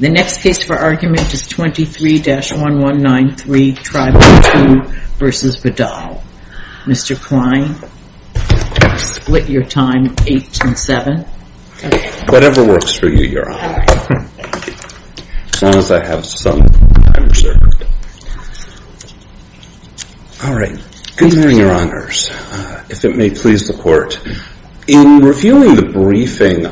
The next case for argument is 23-1193 Tribal Two v. Vidal. Mr. Klein, I'll split your time, 8 and 7. Whatever works for you, Your Honor. As long as I have some time reserved. All right. Good morning, Your Honors. If it may please the Court, in reviewing the briefing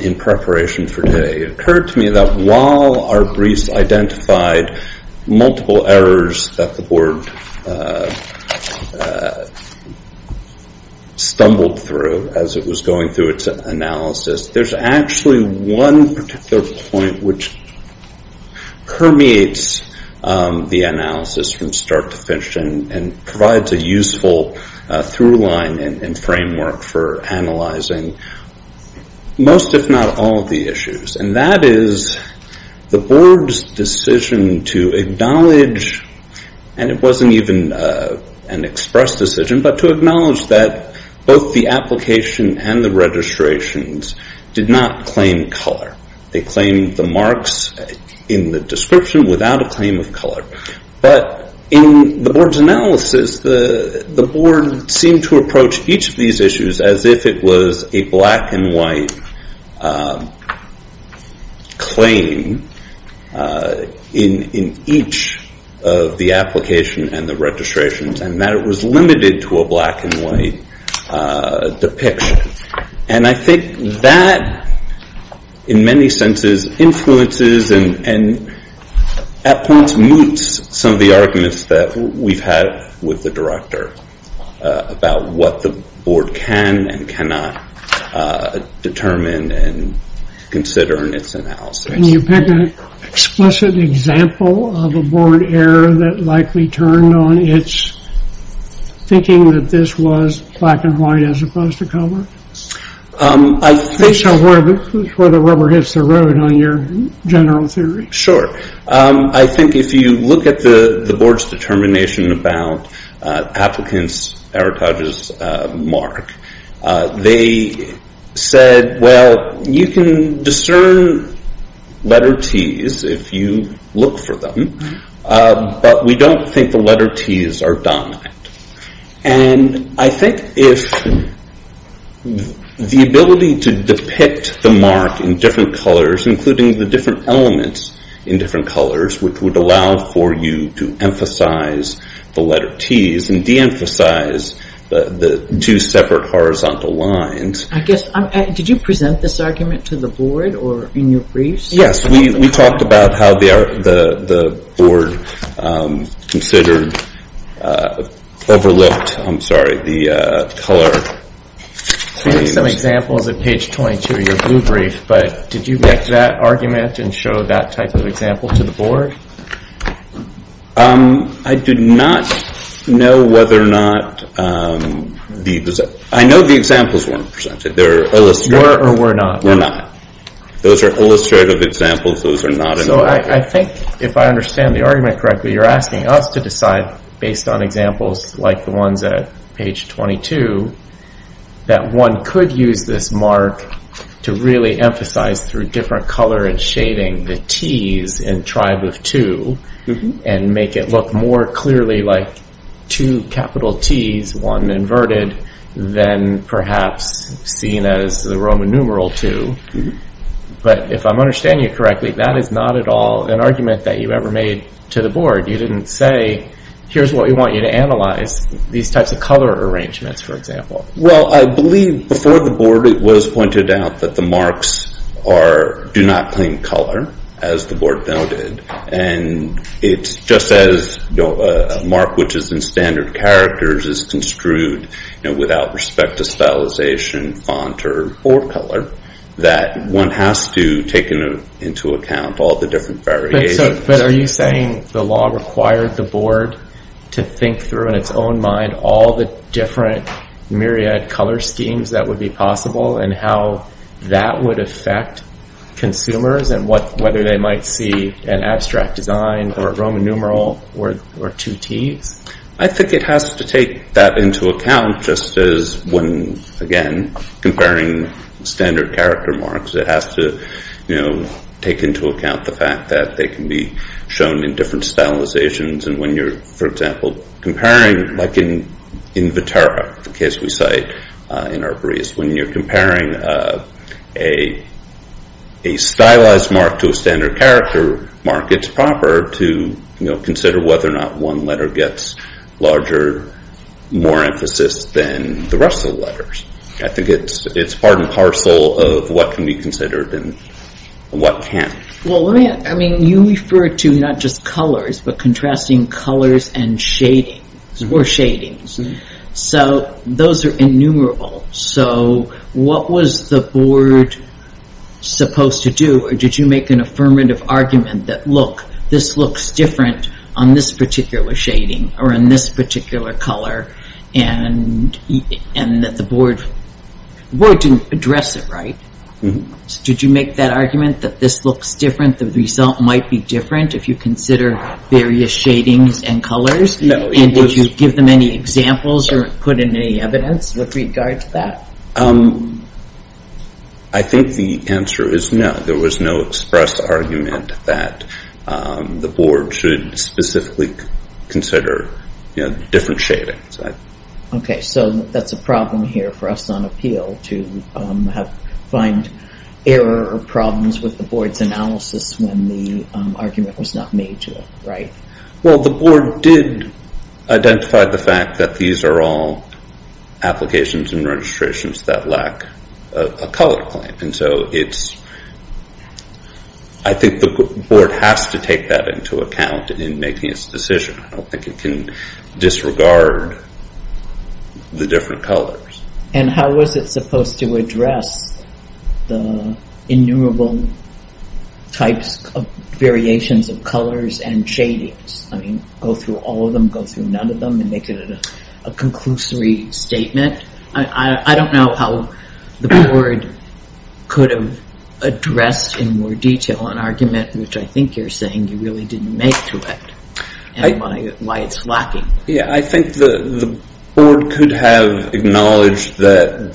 in preparation for today, it occurred to me that while our briefs identified multiple errors that the Board stumbled through as it was going through its analysis, there's actually one particular point which permeates the analysis from start to finish and provides a useful through line and framework for analyzing most, if not all, of the issues. And that is the Board's decision to acknowledge, and it wasn't even an express decision, but to acknowledge that both the application and the registrations did not claim color. They claimed the marks in the description without a claim of color. But in the Board's analysis, the Board seemed to approach each of these issues as if it was a black and white claim in each of the application and the registrations, and that it was limited to a black and white depiction. And I think that in many senses influences and at points moots some of the arguments that we've had with the Director about what the Board can and cannot determine and consider in its analysis. And you pick an explicit example of a Board error that likely turned on its thinking that this was black and white as opposed to color? I think... That's where the rubber hits the road on your general theory. Sure. I think if you look at the Board's determination about applicants' Eric Hodges mark, they said, well, you can discern letter T's if you look for them, but we don't think the letter T's are dominant. And I think if the ability to depict the mark in different colors, including the different elements in different colors, which would allow for you to emphasize the letter T's and de-emphasize the two separate horizontal lines. I guess, did you present this argument to the Board or in your briefs? Yes, we talked about how the Board considered, overlooked, I'm sorry, the color claims. We have some examples at page 22 of your blue brief, but did you make that argument and show that type of example to the Board? I did not know whether or not the... I know the examples weren't presented. They're illustrative. Were or were not? Were not. Those are illustrative examples. Those are not. So I think if I understand the argument correctly, you're asking us to decide based on examples like the ones at page 22 that one could use this mark to really emphasize through different color and shading the T's in tribe of two and make it look more clearly like two capital T's, one inverted, than perhaps seen as the Roman numeral two. But if I'm understanding you correctly, that is not at all an argument that you ever made to the Board. You didn't say, here's what we want you to analyze, these types of color arrangements, for example. Well, I believe before the Board, it was pointed out that the marks do not claim color, as the Board noted. And it's just as a mark which is in standard characters is construed without respect to stylization, font, or color, that one has to take into account all the different variations. But are you saying the law required the Board to think through in its own mind all the different myriad color schemes that would be possible and how that would affect consumers and whether they might see an abstract design or a Roman numeral or two T's? I think it has to take that into account, just as when, again, comparing standard character marks, it has to take into account the fact that they can be shown in different stylizations. And when you're, for example, comparing, like in Vetera, the case we cite in Arboreus, when you're comparing a stylized mark to a standard character mark, it's proper to consider whether or not one letter gets larger, more emphasis than the rest of the letters. I think it's part and parcel of what can be considered and what can't. Well, I mean, you refer to not just colors, but contrasting colors and shadings, or shadings. So those are innumerable. So what was the Board supposed to do, or did you make an affirmative argument that, look, this looks different on this particular shading or on this particular color, and that the Board didn't address it right? Did you make that argument that this looks different, the result might be different if you consider various shadings and colors? And did you give them any examples or put in any evidence with regard to that? I think the answer is no. There was no expressed argument that the Board should specifically consider different shadings. Okay, so that's a problem here for us on appeal, to find error or problems with the Board's analysis when the argument was not made to it, right? Well, the Board did identify the fact that these are all applications and registrations that lack a color claim. And so I think the Board has to take that into account in making its decision. I don't think it can disregard the different colors. And how was it supposed to address the innumerable types of variations of colors and shadings? I mean, go through all of them, go through none of them, and make it a conclusory statement? I don't know how the Board could have addressed in more detail an argument which I think you're saying you really didn't make to it. And why it's lacking. Yeah, I think the Board could have acknowledged that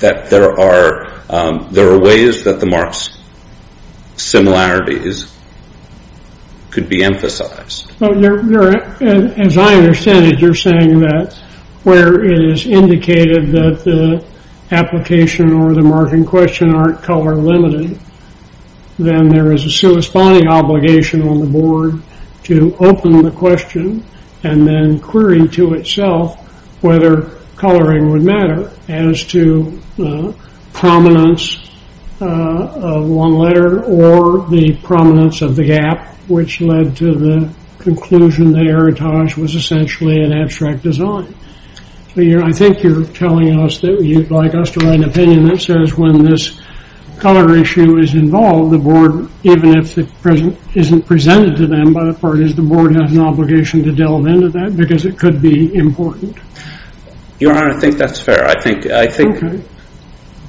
there are ways that the marks similarities could be emphasized. As I understand it, you're saying that where it is indicated that the application or the marking question aren't color limited, then there is a corresponding obligation on the Board to open the question and then query to itself whether coloring would matter as to the prominence of one letter or the prominence of the gap, which led to the conclusion that Erotage was essentially an abstract design. I think you're telling us that you'd like us to write an opinion that says when this color issue is involved, the Board, even if it isn't presented to them by the parties, the Board has an obligation to delve into that because it could be important. Your Honor, I think that's fair.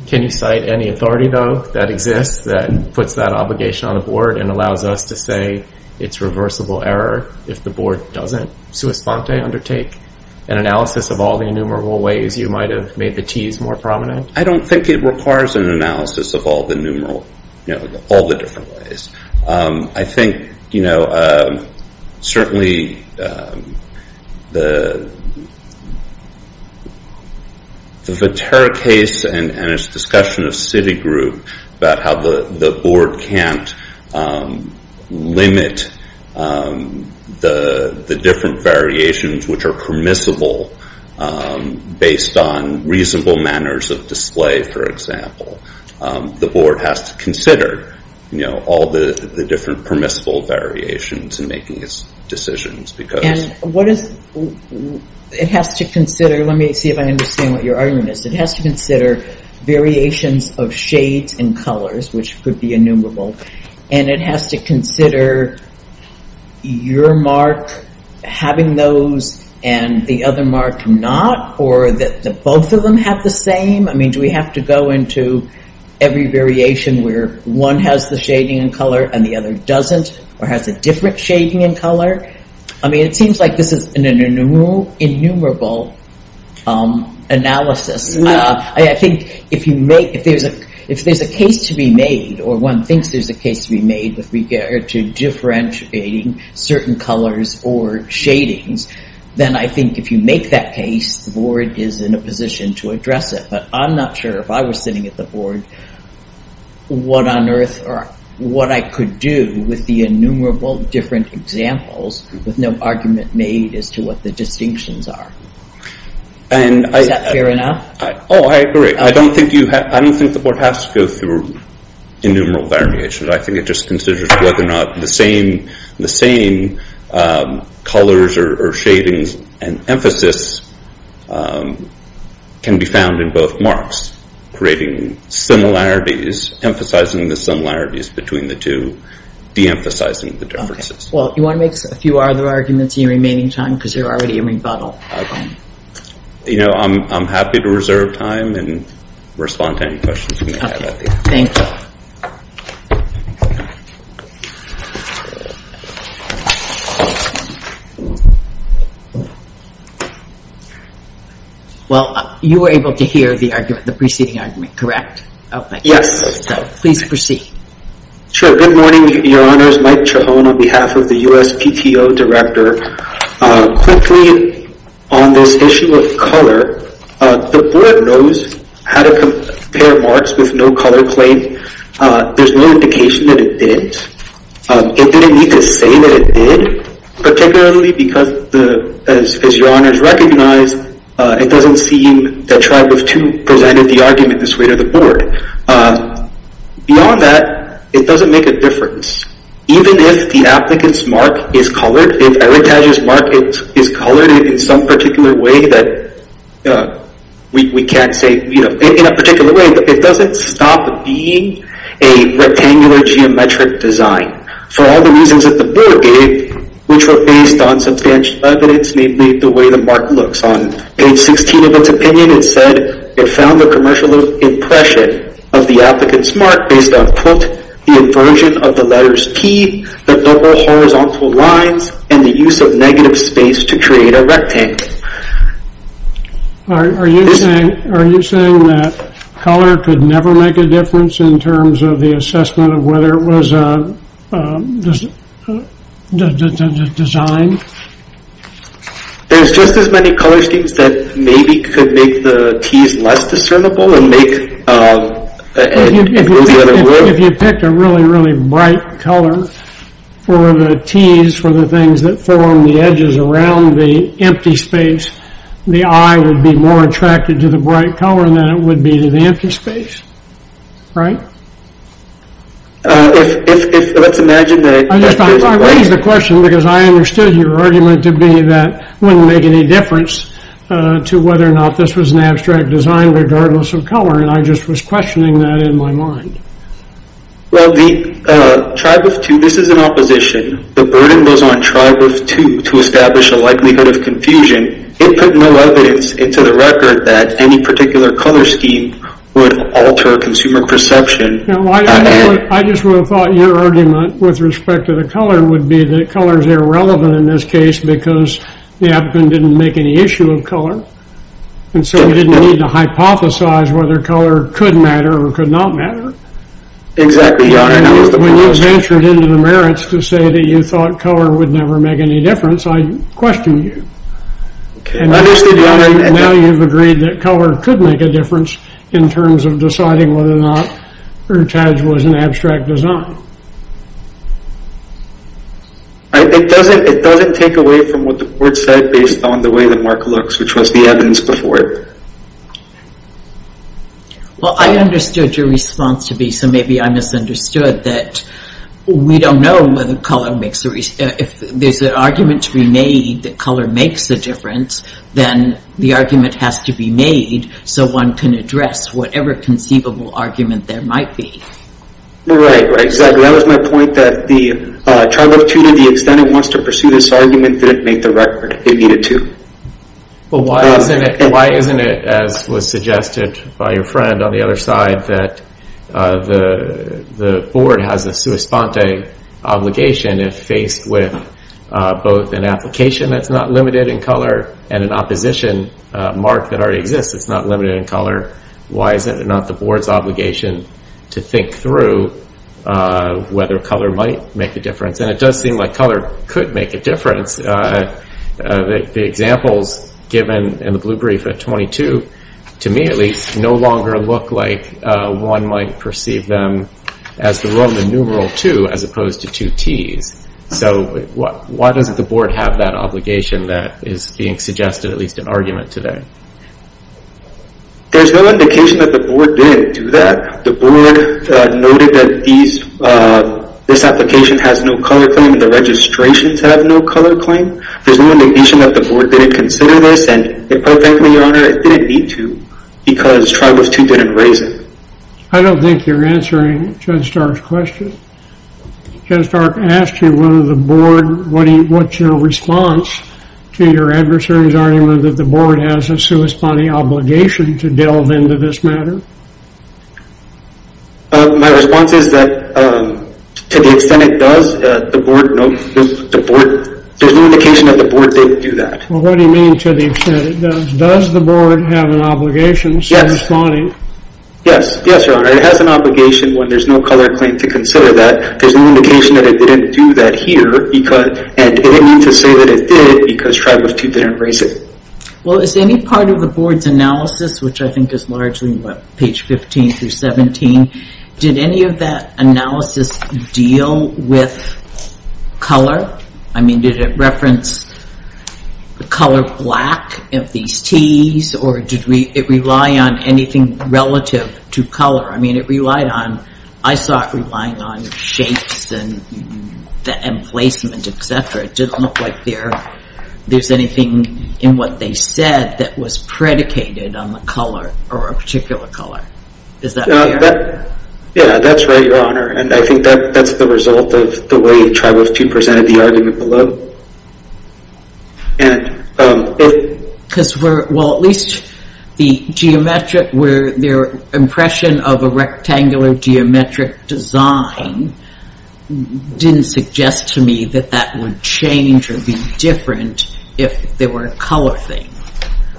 Can you cite any authority, though, that exists that puts that obligation on the Board and allows us to say it's reversible error if the Board doesn't, sua sponte, undertake an analysis of all the innumerable ways you might have made the Ts more prominent? I don't think it requires an analysis of all the different ways. I think certainly the Vetera case and its discussion of Citigroup about how the Board can't limit the different variations which are permissible based on reasonable manners of display, for example. The Board has to consider all the different permissible variations in making its decisions. Let me see if I understand what your argument is. It has to consider variations of shades and colors, which could be innumerable, and it has to consider your mark having those and the other mark not, or that both of them have the same. Do we have to go into every variation where one has the shading and color and the other doesn't, or has a different shading and color? It seems like this is an innumerable analysis. I think if there's a case to be made or one thinks there's a case to be made with regard to differentiating certain colors or shadings, then I think if you make that case, the Board is in a position to address it. But I'm not sure if I was sitting at the Board what on earth or what I could do with the innumerable different examples with no argument made as to what the distinctions are. Is that fair enough? Oh, I agree. I don't think the Board has to go through innumerable variations. I think it just considers whether or not the same colors or shadings and emphasis can be found in both marks, creating similarities, emphasizing the similarities between the two, deemphasizing the differences. Well, do you want to make a few other arguments in your remaining time because you're already in rebuttal? I'm happy to reserve time and respond to any questions. Okay, thank you. Well, you were able to hear the preceding argument, correct? Yes. Please proceed. Sure. Good morning, Your Honors. My name is Mike Chihon on behalf of the USPTO Director. Quickly, on this issue of color, the Board knows how to compare marks with no color claim. There's no indication that it did. It didn't need to say that it did, particularly because, as Your Honors recognize, it doesn't seem that Tribe of Two presented the argument this way to the Board. Beyond that, it doesn't make a difference. Even if the applicant's mark is colored, if Eric Taja's mark is colored in some particular way, we can't say in a particular way, but it doesn't stop being a rectangular geometric design. For all the reasons that the Board gave, which were based on substantial evidence, namely the way the mark looks, on page 16 of its opinion, it said it found the commercial impression of the applicant's mark based on, quote, the inversion of the letters T, the double horizontal lines, and the use of negative space to create a rectangle. Are you saying that color could never make a difference in terms of the assessment of whether it was designed? There's just as many color schemes that maybe could make the T's less discernible and make... If you picked a really, really bright color for the T's, for the things that form the edges around the empty space, the eye would be more attracted to the bright color than it would be to the empty space. Right? If, let's imagine that... I raised the question because I understood your argument to be that it wouldn't make any difference to whether or not this was an abstract design regardless of color, and I just was questioning that in my mind. Well, the tribe of two, this is an opposition. The burden was on tribe of two to establish a likelihood of confusion. It put no evidence into the record that any particular color scheme would alter consumer perception. I just would have thought your argument with respect to the color would be that color is irrelevant in this case because the advent didn't make any issue of color, and so we didn't need to hypothesize whether color could matter or could not matter. Exactly, Your Honor. When you ventured into the merits to say that you thought color would never make any difference, I questioned you. I understood, Your Honor. Now you've agreed that color could make a difference in terms of deciding whether or not ertage was an abstract design. It doesn't take away from what the court said based on the way the mark looks, which was the evidence before it. Well, I understood your response to be, so maybe I misunderstood, that we don't know whether color makes a... If there's an argument to be made that color makes a difference, then the argument has to be made so one can address whatever conceivable argument there might be. Right, exactly. That was my point, that the trial of two, to the extent it wants to pursue this argument, didn't make the record. It needed two. Well, why isn't it, as was suggested by your friend on the other side, that the board has a sua sponte obligation if faced with both an application that's not limited in color and an opposition mark that already exists that's not limited in color, why is it not the board's obligation to think through whether color might make a difference? And it does seem like color could make a difference. The examples given in the blue brief at 22, to me at least, no longer look like one might perceive them as the Roman numeral two as opposed to two Ts. So why doesn't the board have that obligation that is being suggested, at least in argument today? There's no indication that the board didn't do that. The board noted that this application has no color claim and the registrations have no color claim. There's no indication that the board didn't consider this and quite frankly, Your Honor, it didn't need to because trial of two didn't raise it. I don't think you're answering Judge Stark's question. Judge Stark asked you whether the board, what's your response to your adversary's argument that the board has a sua sponte obligation to delve into this matter? My response is that to the extent it does, there's no indication that the board didn't do that. What do you mean to the extent it does? Does the board have an obligation, sua sponte? Yes, Your Honor. It has an obligation when there's no color claim to consider that. There's no indication that it didn't do that here and it didn't need to say that it did because trial of two didn't raise it. Well, is any part of the board's analysis, which I think is largely page 15 through 17, did any of that analysis deal with color? I mean, did it reference the color black of these Ts or did it rely on anything relative to color? I mean, it relied on, I saw it relying on shapes and placement, etc. It didn't look like there's anything in what they said that was predicated on the color or a particular color. Is that fair? Yeah, that's right, Your Honor. And I think that's the result of the way trial of two presented the argument below. Well, at least the impression of a rectangular geometric design didn't suggest to me that that would change or be different if there were a color thing.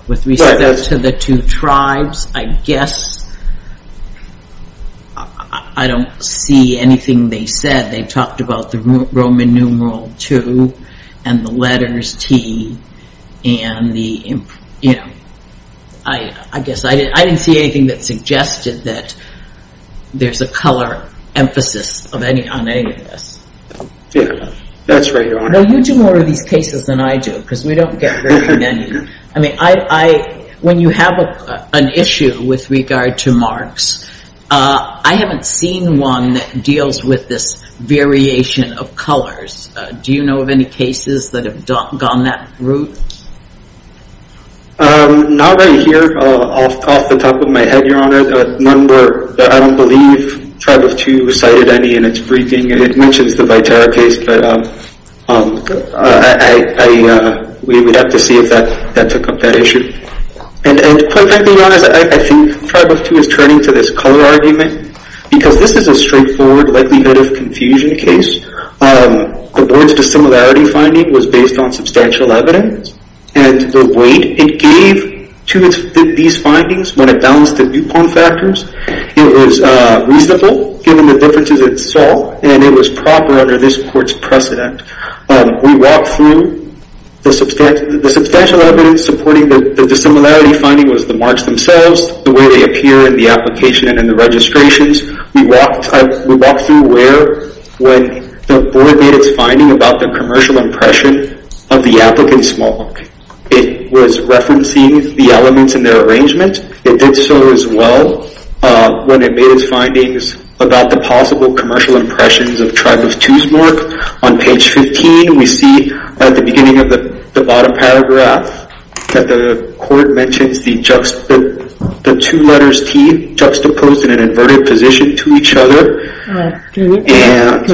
With respect to the two tribes, I guess I don't see anything they said. They talked about the Roman numeral two and the letters T. I guess I didn't see anything that suggested that there's a color emphasis on any of this. Yeah, that's right, Your Honor. Well, you do more of these cases than I do because we don't get very many. I mean, when you have an issue with regard to marks, I haven't seen one that deals with this variation of colors. Do you know of any cases that have gone that route? Not right here. Off the top of my head, Your Honor, one where I don't believe trial of two recited any and it's briefing and it mentions the Viterra case, but we would have to see if that took up that issue. And quite frankly, Your Honor, I think trial of two is turning to this color argument because this is a straightforward likelihood of confusion case. The board's dissimilarity finding was based on substantial evidence and the weight it gave to these findings when it balanced the DuPont factors, it was reasonable given the differences it saw, and it was proper under this court's precedent. We walked through the substantial evidence supporting the dissimilarity finding was the marks themselves, the way they appear in the application and in the registrations. We walked through where when the board made its finding about the commercial impression of the applicant's mark, it was referencing the elements in their arrangement. It did so as well when it made its findings about the possible commercial impressions of trial of two's mark. On page 15, we see at the beginning of the bottom paragraph that the court mentions the two letters T juxtaposed in an inverted position to each other. Can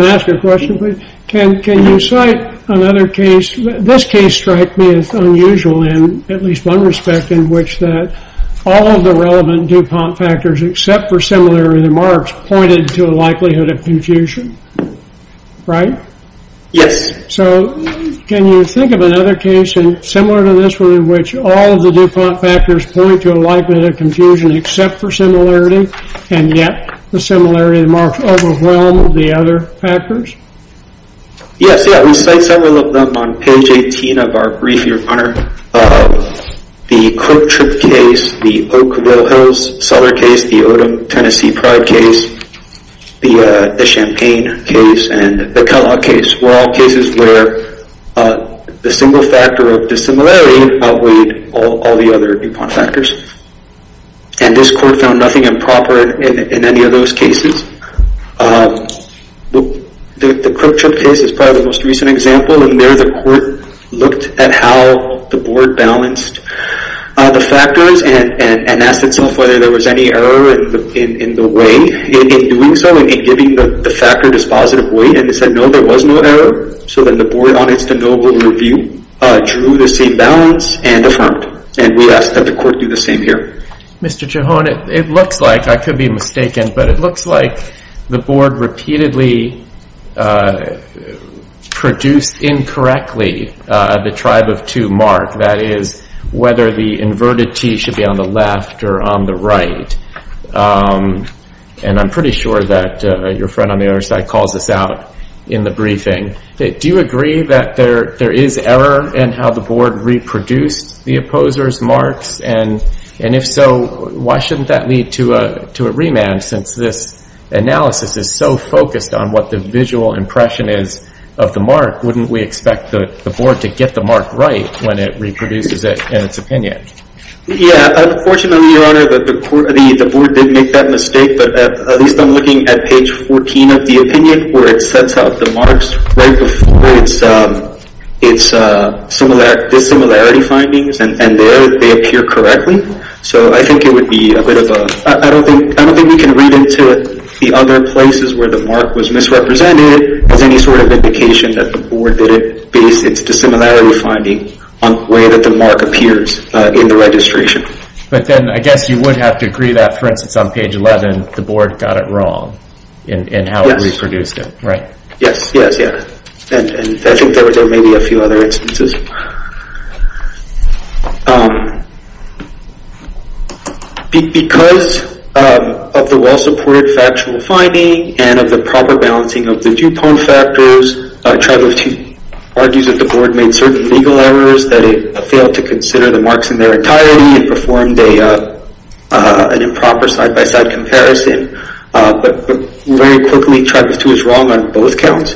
I ask a question, please? Can you cite another case? This case strikes me as unusual in at least one respect in which all of the relevant DuPont factors except for similarity of the marks pointed to a likelihood of confusion. Right? Yes. Can you think of another case similar to this in which all of the DuPont factors point to a likelihood of confusion except for similarity and yet the similarity of the marks overwhelm the other factors? Yes. We cite several of them on page 18 of our brief, Your Honor. The Coke Trip case, the Oakville Hills Cellar case, the Odom Tennessee Pride case, the Champagne case, and the Kellogg case were all cases where the single factor of dissimilarity outweighed all the other DuPont factors. And this court found nothing improper in any of those cases. The Crook Trip case is probably the most recent example. In there, the court looked at how the board balanced the factors and asked itself whether there was any error in the way in doing so, in giving the factor dispositive weight. And they said, no, there was no error. So then the board, on its de novo review, drew the same balance and affirmed. And we asked that the court do the same here. Mr. Chihon, it looks like, I could be mistaken, but it looks like the board repeatedly produced incorrectly the tribe of two mark. That is, whether the inverted T should be on the left or on the right. And I'm pretty sure that your friend on the other side calls this out in the briefing. Do you agree that there is error in how the board reproduced the opposers' marks? And if so, why shouldn't that lead to a remand, since this analysis is so focused on what the visual impression is of the mark? Wouldn't we expect the board to get the mark right when it reproduces it in its opinion? Yeah. Unfortunately, Your Honor, the board did make that mistake. But at least I'm looking at page 14 of the opinion, where it sets out the marks right before its dissimilarity findings. And there, they appear correctly. So I think it would be a bit of a... I don't think we can read into the other places where the mark was misrepresented as any sort of indication that the board didn't base its dissimilarity finding on the way that the mark appears in the registration. But then I guess you would have to agree that, for instance, on page 11, the board got it wrong in how it reproduced it, right? Yes, yes, yeah. And I think there may be a few other instances. Because of the well-supported factual finding and of the proper balancing of the DuPont factors, Tribal 2 argues that the board made certain legal errors, that it failed to consider the marks in their entirety and performed an improper side-by-side comparison. But very quickly, Tribal 2 is wrong on both counts.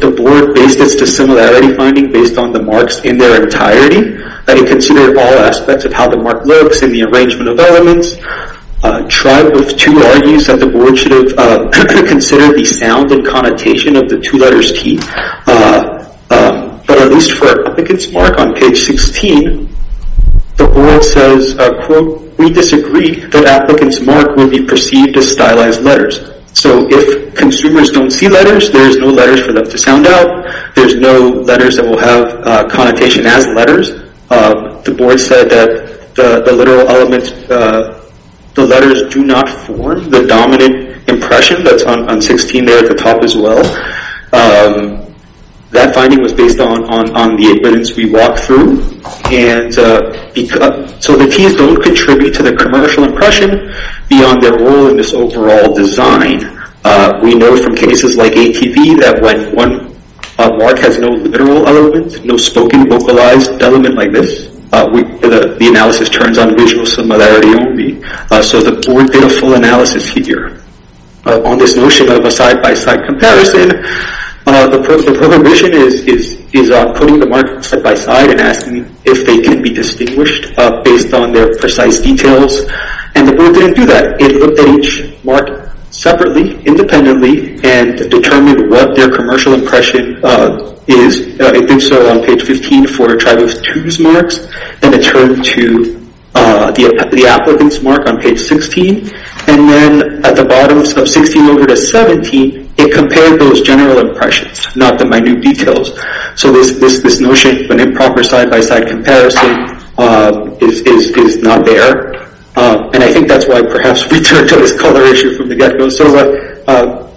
The board based its dissimilarity finding based on the marks in their entirety, that it considered all aspects of how the mark looks and the arrangement of elements. Tribal 2 argues that the board should have considered the sound and connotation of the two letters T. But at least for Applicant's Mark on page 16, the board says, quote, we disagree that Applicant's Mark will be perceived as stylized letters. So if consumers don't see letters, there's no letters for them to sound out. There's no letters that will have connotation as letters. The board said that the literal elements, the letters do not form the dominant impression. That's on 16 there at the top as well. That finding was based on the evidence we walked through. So the Ts don't contribute to the commercial impression beyond their role in this overall design. We know from cases like ATV that when one mark has no literal elements, no spoken, vocalized element like this, the analysis turns on visual similarity only. So the board did a full analysis here. On this notion of a side-by-side comparison, the prohibition is putting the marks side-by-side and asking if they can be distinguished based on their precise details. And the board didn't do that. It looked at each mark separately, independently, and determined what their commercial impression is. It did so on page 15 for a tribe of two's marks. Then it turned to the Applicant's Mark on page 16. And then at the bottom of 16 over to 17, it compared those general impressions, not the minute details. So this notion of an improper side-by-side comparison is not there. And I think that's why, perhaps, we turned to this color issue from the get-go.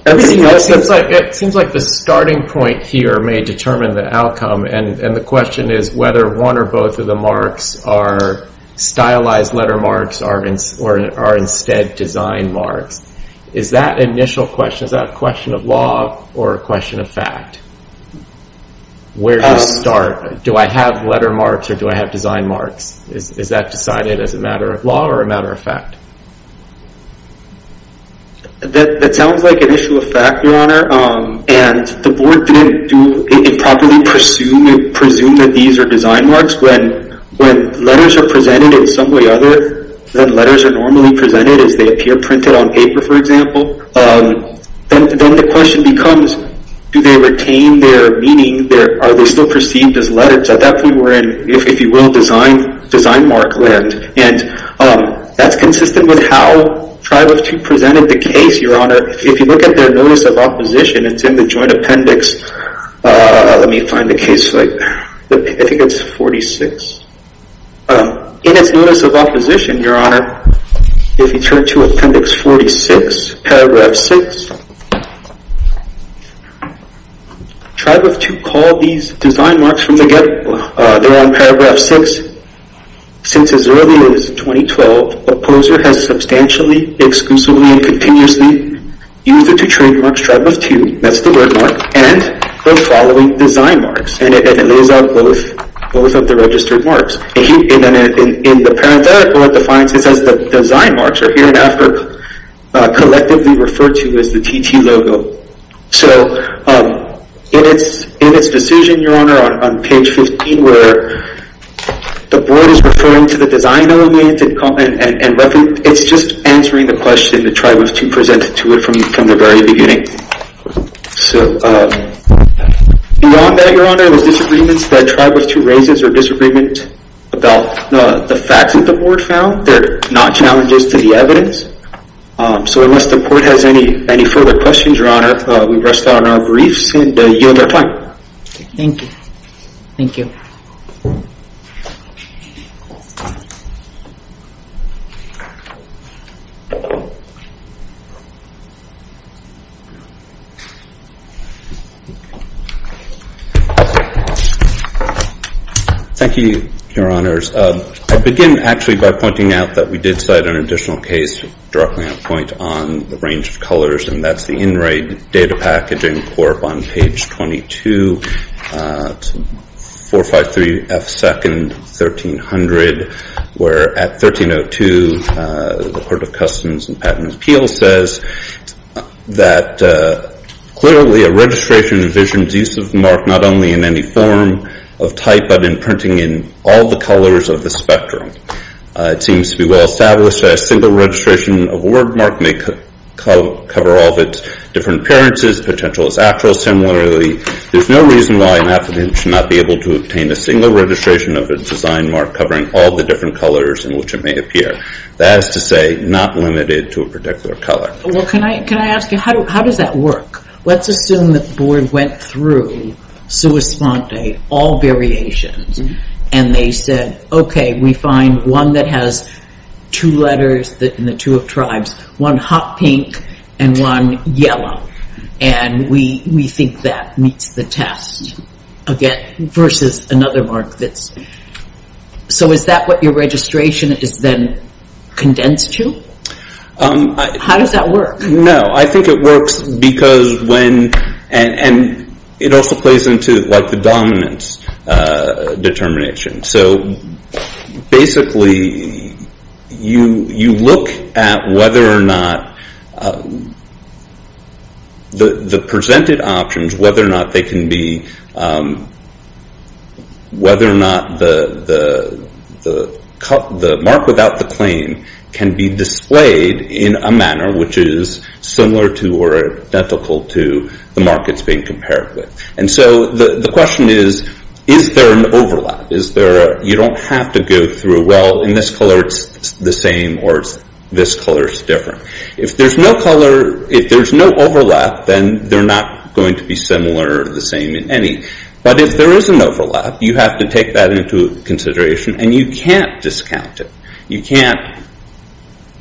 It seems like the starting point here may determine the outcome. And the question is whether one or both of the marks are stylized letter marks or are instead design marks. Is that an initial question? Is that a question of law or a question of fact? Where do you start? Do I have letter marks or do I have design marks? Is that decided as a matter of law or a matter of fact? That sounds like an issue of fact, Your Honor. And the board didn't improperly presume that these are design marks. When letters are presented in some way other than letters are normally presented, as they appear printed on paper, for example, then the question becomes, do they retain their meaning? Are they still perceived as letters? At that point, we're in, if you will, design mark land. And that's consistent with how Tribe of Two presented the case, Your Honor. If you look at their Notice of Opposition, it's in the Joint Appendix. Let me find the case. I think it's 46. In its Notice of Opposition, Your Honor, if you turn to Appendix 46, Paragraph 6, Tribe of Two called these design marks from the get-go. They're on Paragraph 6. Since as early as 2012, the opposer has substantially, exclusively, and continuously used the two trademarks, Tribe of Two, that's the word mark, and the following design marks. And it lays out both of the registered marks. In the parenthetical, it defines this as the design marks collectively referred to as the TT logo. So in its decision, Your Honor, on page 15, where the board is referring to the design elements and reference, it's just answering the question that Tribe of Two presented to it from the very beginning. So beyond that, Your Honor, the disagreements that Tribe of Two raises are disagreements about the facts that the board found. They're not challenges to the evidence. So unless the board has any further questions, Your Honor, we rest on our briefs and yield our time. Thank you. Thank you. Thank you, Your Honors. I'll begin, actually, by pointing out that we did cite an additional case, directly on point, on the range of colors, and that's the In Re Data Packaging Corp on page 22, 453F2nd, 1300, where at 1302, the Court of Customs and Patent Appeals says that clearly a registration envisions use of the mark not only in any form of type but in printing in all the colors of the spectrum. It seems to be well established that a single registration of a word mark may cover all of its different appearances. Potential is actual. Similarly, there's no reason why an applicant should not be able to obtain a single registration of a design mark covering all the different colors in which it may appear. That is to say, not limited to a particular color. Well, can I ask you, how does that work? Let's assume that the Board went through sua sponte, all variations, and they said, okay, we find one that has two letters in the two of tribes, one hot pink and one yellow, and we think that meets the test, versus another mark that's... So is that what your registration is then condensed to? How does that work? No, I think it works because when... And it also plays into the dominance determination. So basically, you look at whether or not the presented options, whether or not they can be... whether or not the mark without the claim can be displayed in a manner which is similar to or identical to the mark it's being compared with. And so the question is, is there an overlap? You don't have to go through, well, in this color, it's the same, or this color's different. If there's no overlap, then they're not going to be similar or the same in any. But if there is an overlap, you have to take that into consideration, and you can't discount it. You can't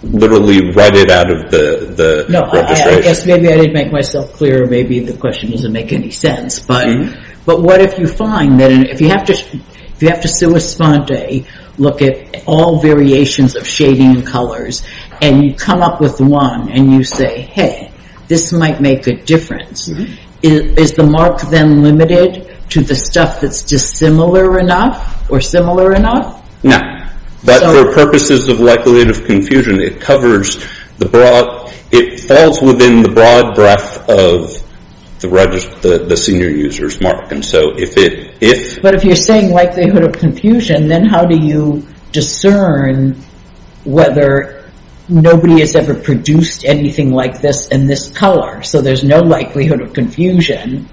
literally write it out of the registration. No, I guess maybe I didn't make myself clear. Maybe the question doesn't make any sense. But what if you find that if you have to sui sponte, look at all variations of shading and colors, and you come up with one, and you say, hey, this might make a difference, is the mark then limited to the stuff that's dissimilar enough or similar enough? No, but for purposes of likelihood of confusion, it falls within the broad breadth of the senior user's mark. But if you're saying likelihood of confusion, then how do you discern whether nobody has ever produced anything like this in this color? So there's no likelihood of confusion.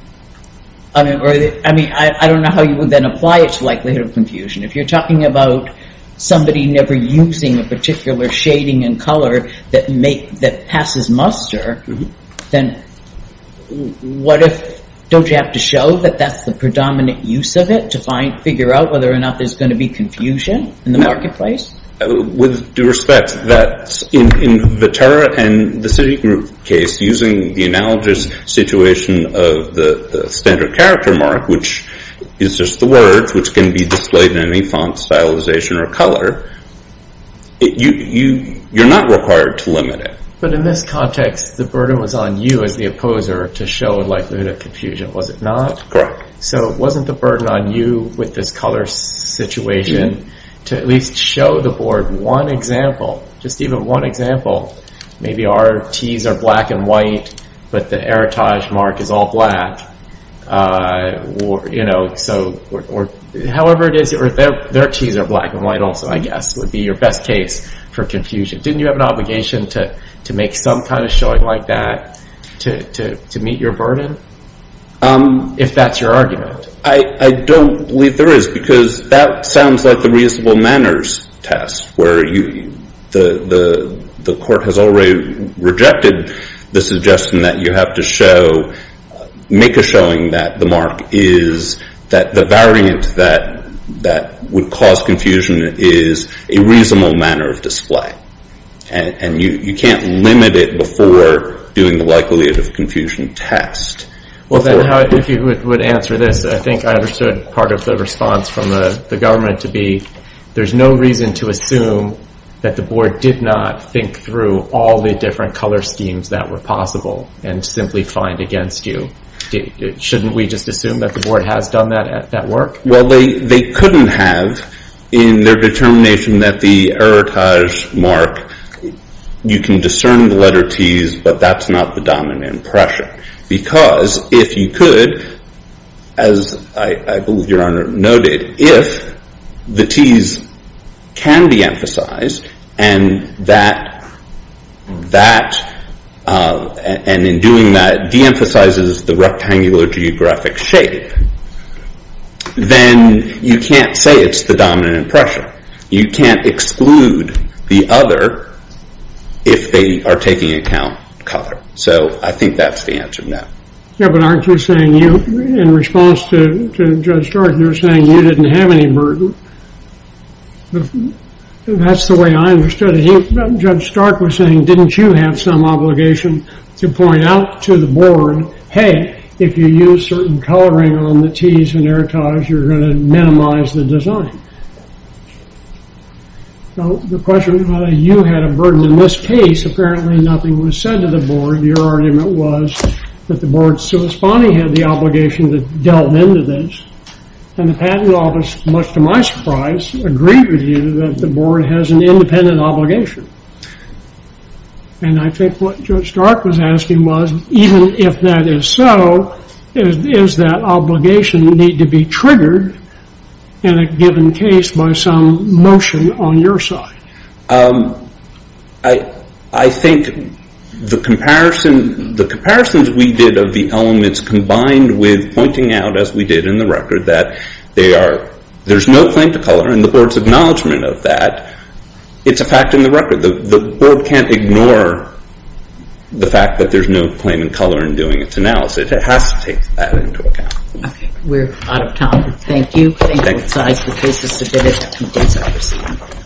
I mean, I don't know how you would then apply it to likelihood of confusion. If you're talking about somebody never using a particular shading and color that passes muster, then what if, don't you have to show that that's the predominant use of it to figure out whether or not there's going to be confusion in the marketplace? With due respect, that's in the TERRA and the Citigroup case, using the analogous situation of the standard character mark, which is just the word, which can be displayed in any font stylization or color, you're not required to limit it. But in this context, the burden was on you as the opposer to show likelihood of confusion, was it not? Correct. So wasn't the burden on you with this color situation to at least show the board one example, just even one example? Maybe our Ts are black and white, but the Erotage mark is all black. So however it is, their Ts are black and white also, I guess, would be your best case for confusion. Didn't you have an obligation to make some kind of showing like that to meet your burden? If that's your argument. I don't believe there is, because that sounds like the reasonable manners test, where the court has already rejected the suggestion that you have to show, make a showing that the mark is, that the variant that would cause confusion is a reasonable manner of display. And you can't limit it before doing the likelihood of confusion test. Well then, if you would answer this, I think I understood part of the response from the government to be, there's no reason to assume that the board did not think through all the different color schemes that were possible and simply find against you. Shouldn't we just assume that the board has done that work? Well, they couldn't have in their determination that the Erotage mark, you can discern the letter Ts, but that's not the dominant pressure. Because if you could, as I believe your Honor noted, if the Ts can be emphasized and that, and in doing that deemphasizes the rectangular geographic shape, then you can't say it's the dominant pressure. You can't exclude the other if they are taking account color. So I think that's the answer now. Yeah, but aren't you saying you, in response to Judge Jordan, you're saying you didn't have any burden. That's the way I understood it. Judge Stark was saying, didn't you have some obligation to point out to the board, hey, if you use certain coloring on the Ts in Erotage, you're going to minimize the design. So the question, you had a burden. In this case, apparently nothing was said to the board. Your argument was that the board's corresponding had the obligation to delve into this. And the patent office, much to my surprise, agreed with you that the board has an independent obligation. And I think what Judge Stark was asking was, even if that is so, does that obligation need to be triggered in a given case by some motion on your side? I think the comparisons we did of the elements combined with pointing out, as we did in the record, that there's no claim to color and the board's acknowledgement of that, it's a fact in the record. The board can't ignore the fact that there's no claim in color in doing its analysis. It has to take that into account. Okay, we're out of time. Thank you. Thank you both sides for cases submitted. Thank you. Thank you.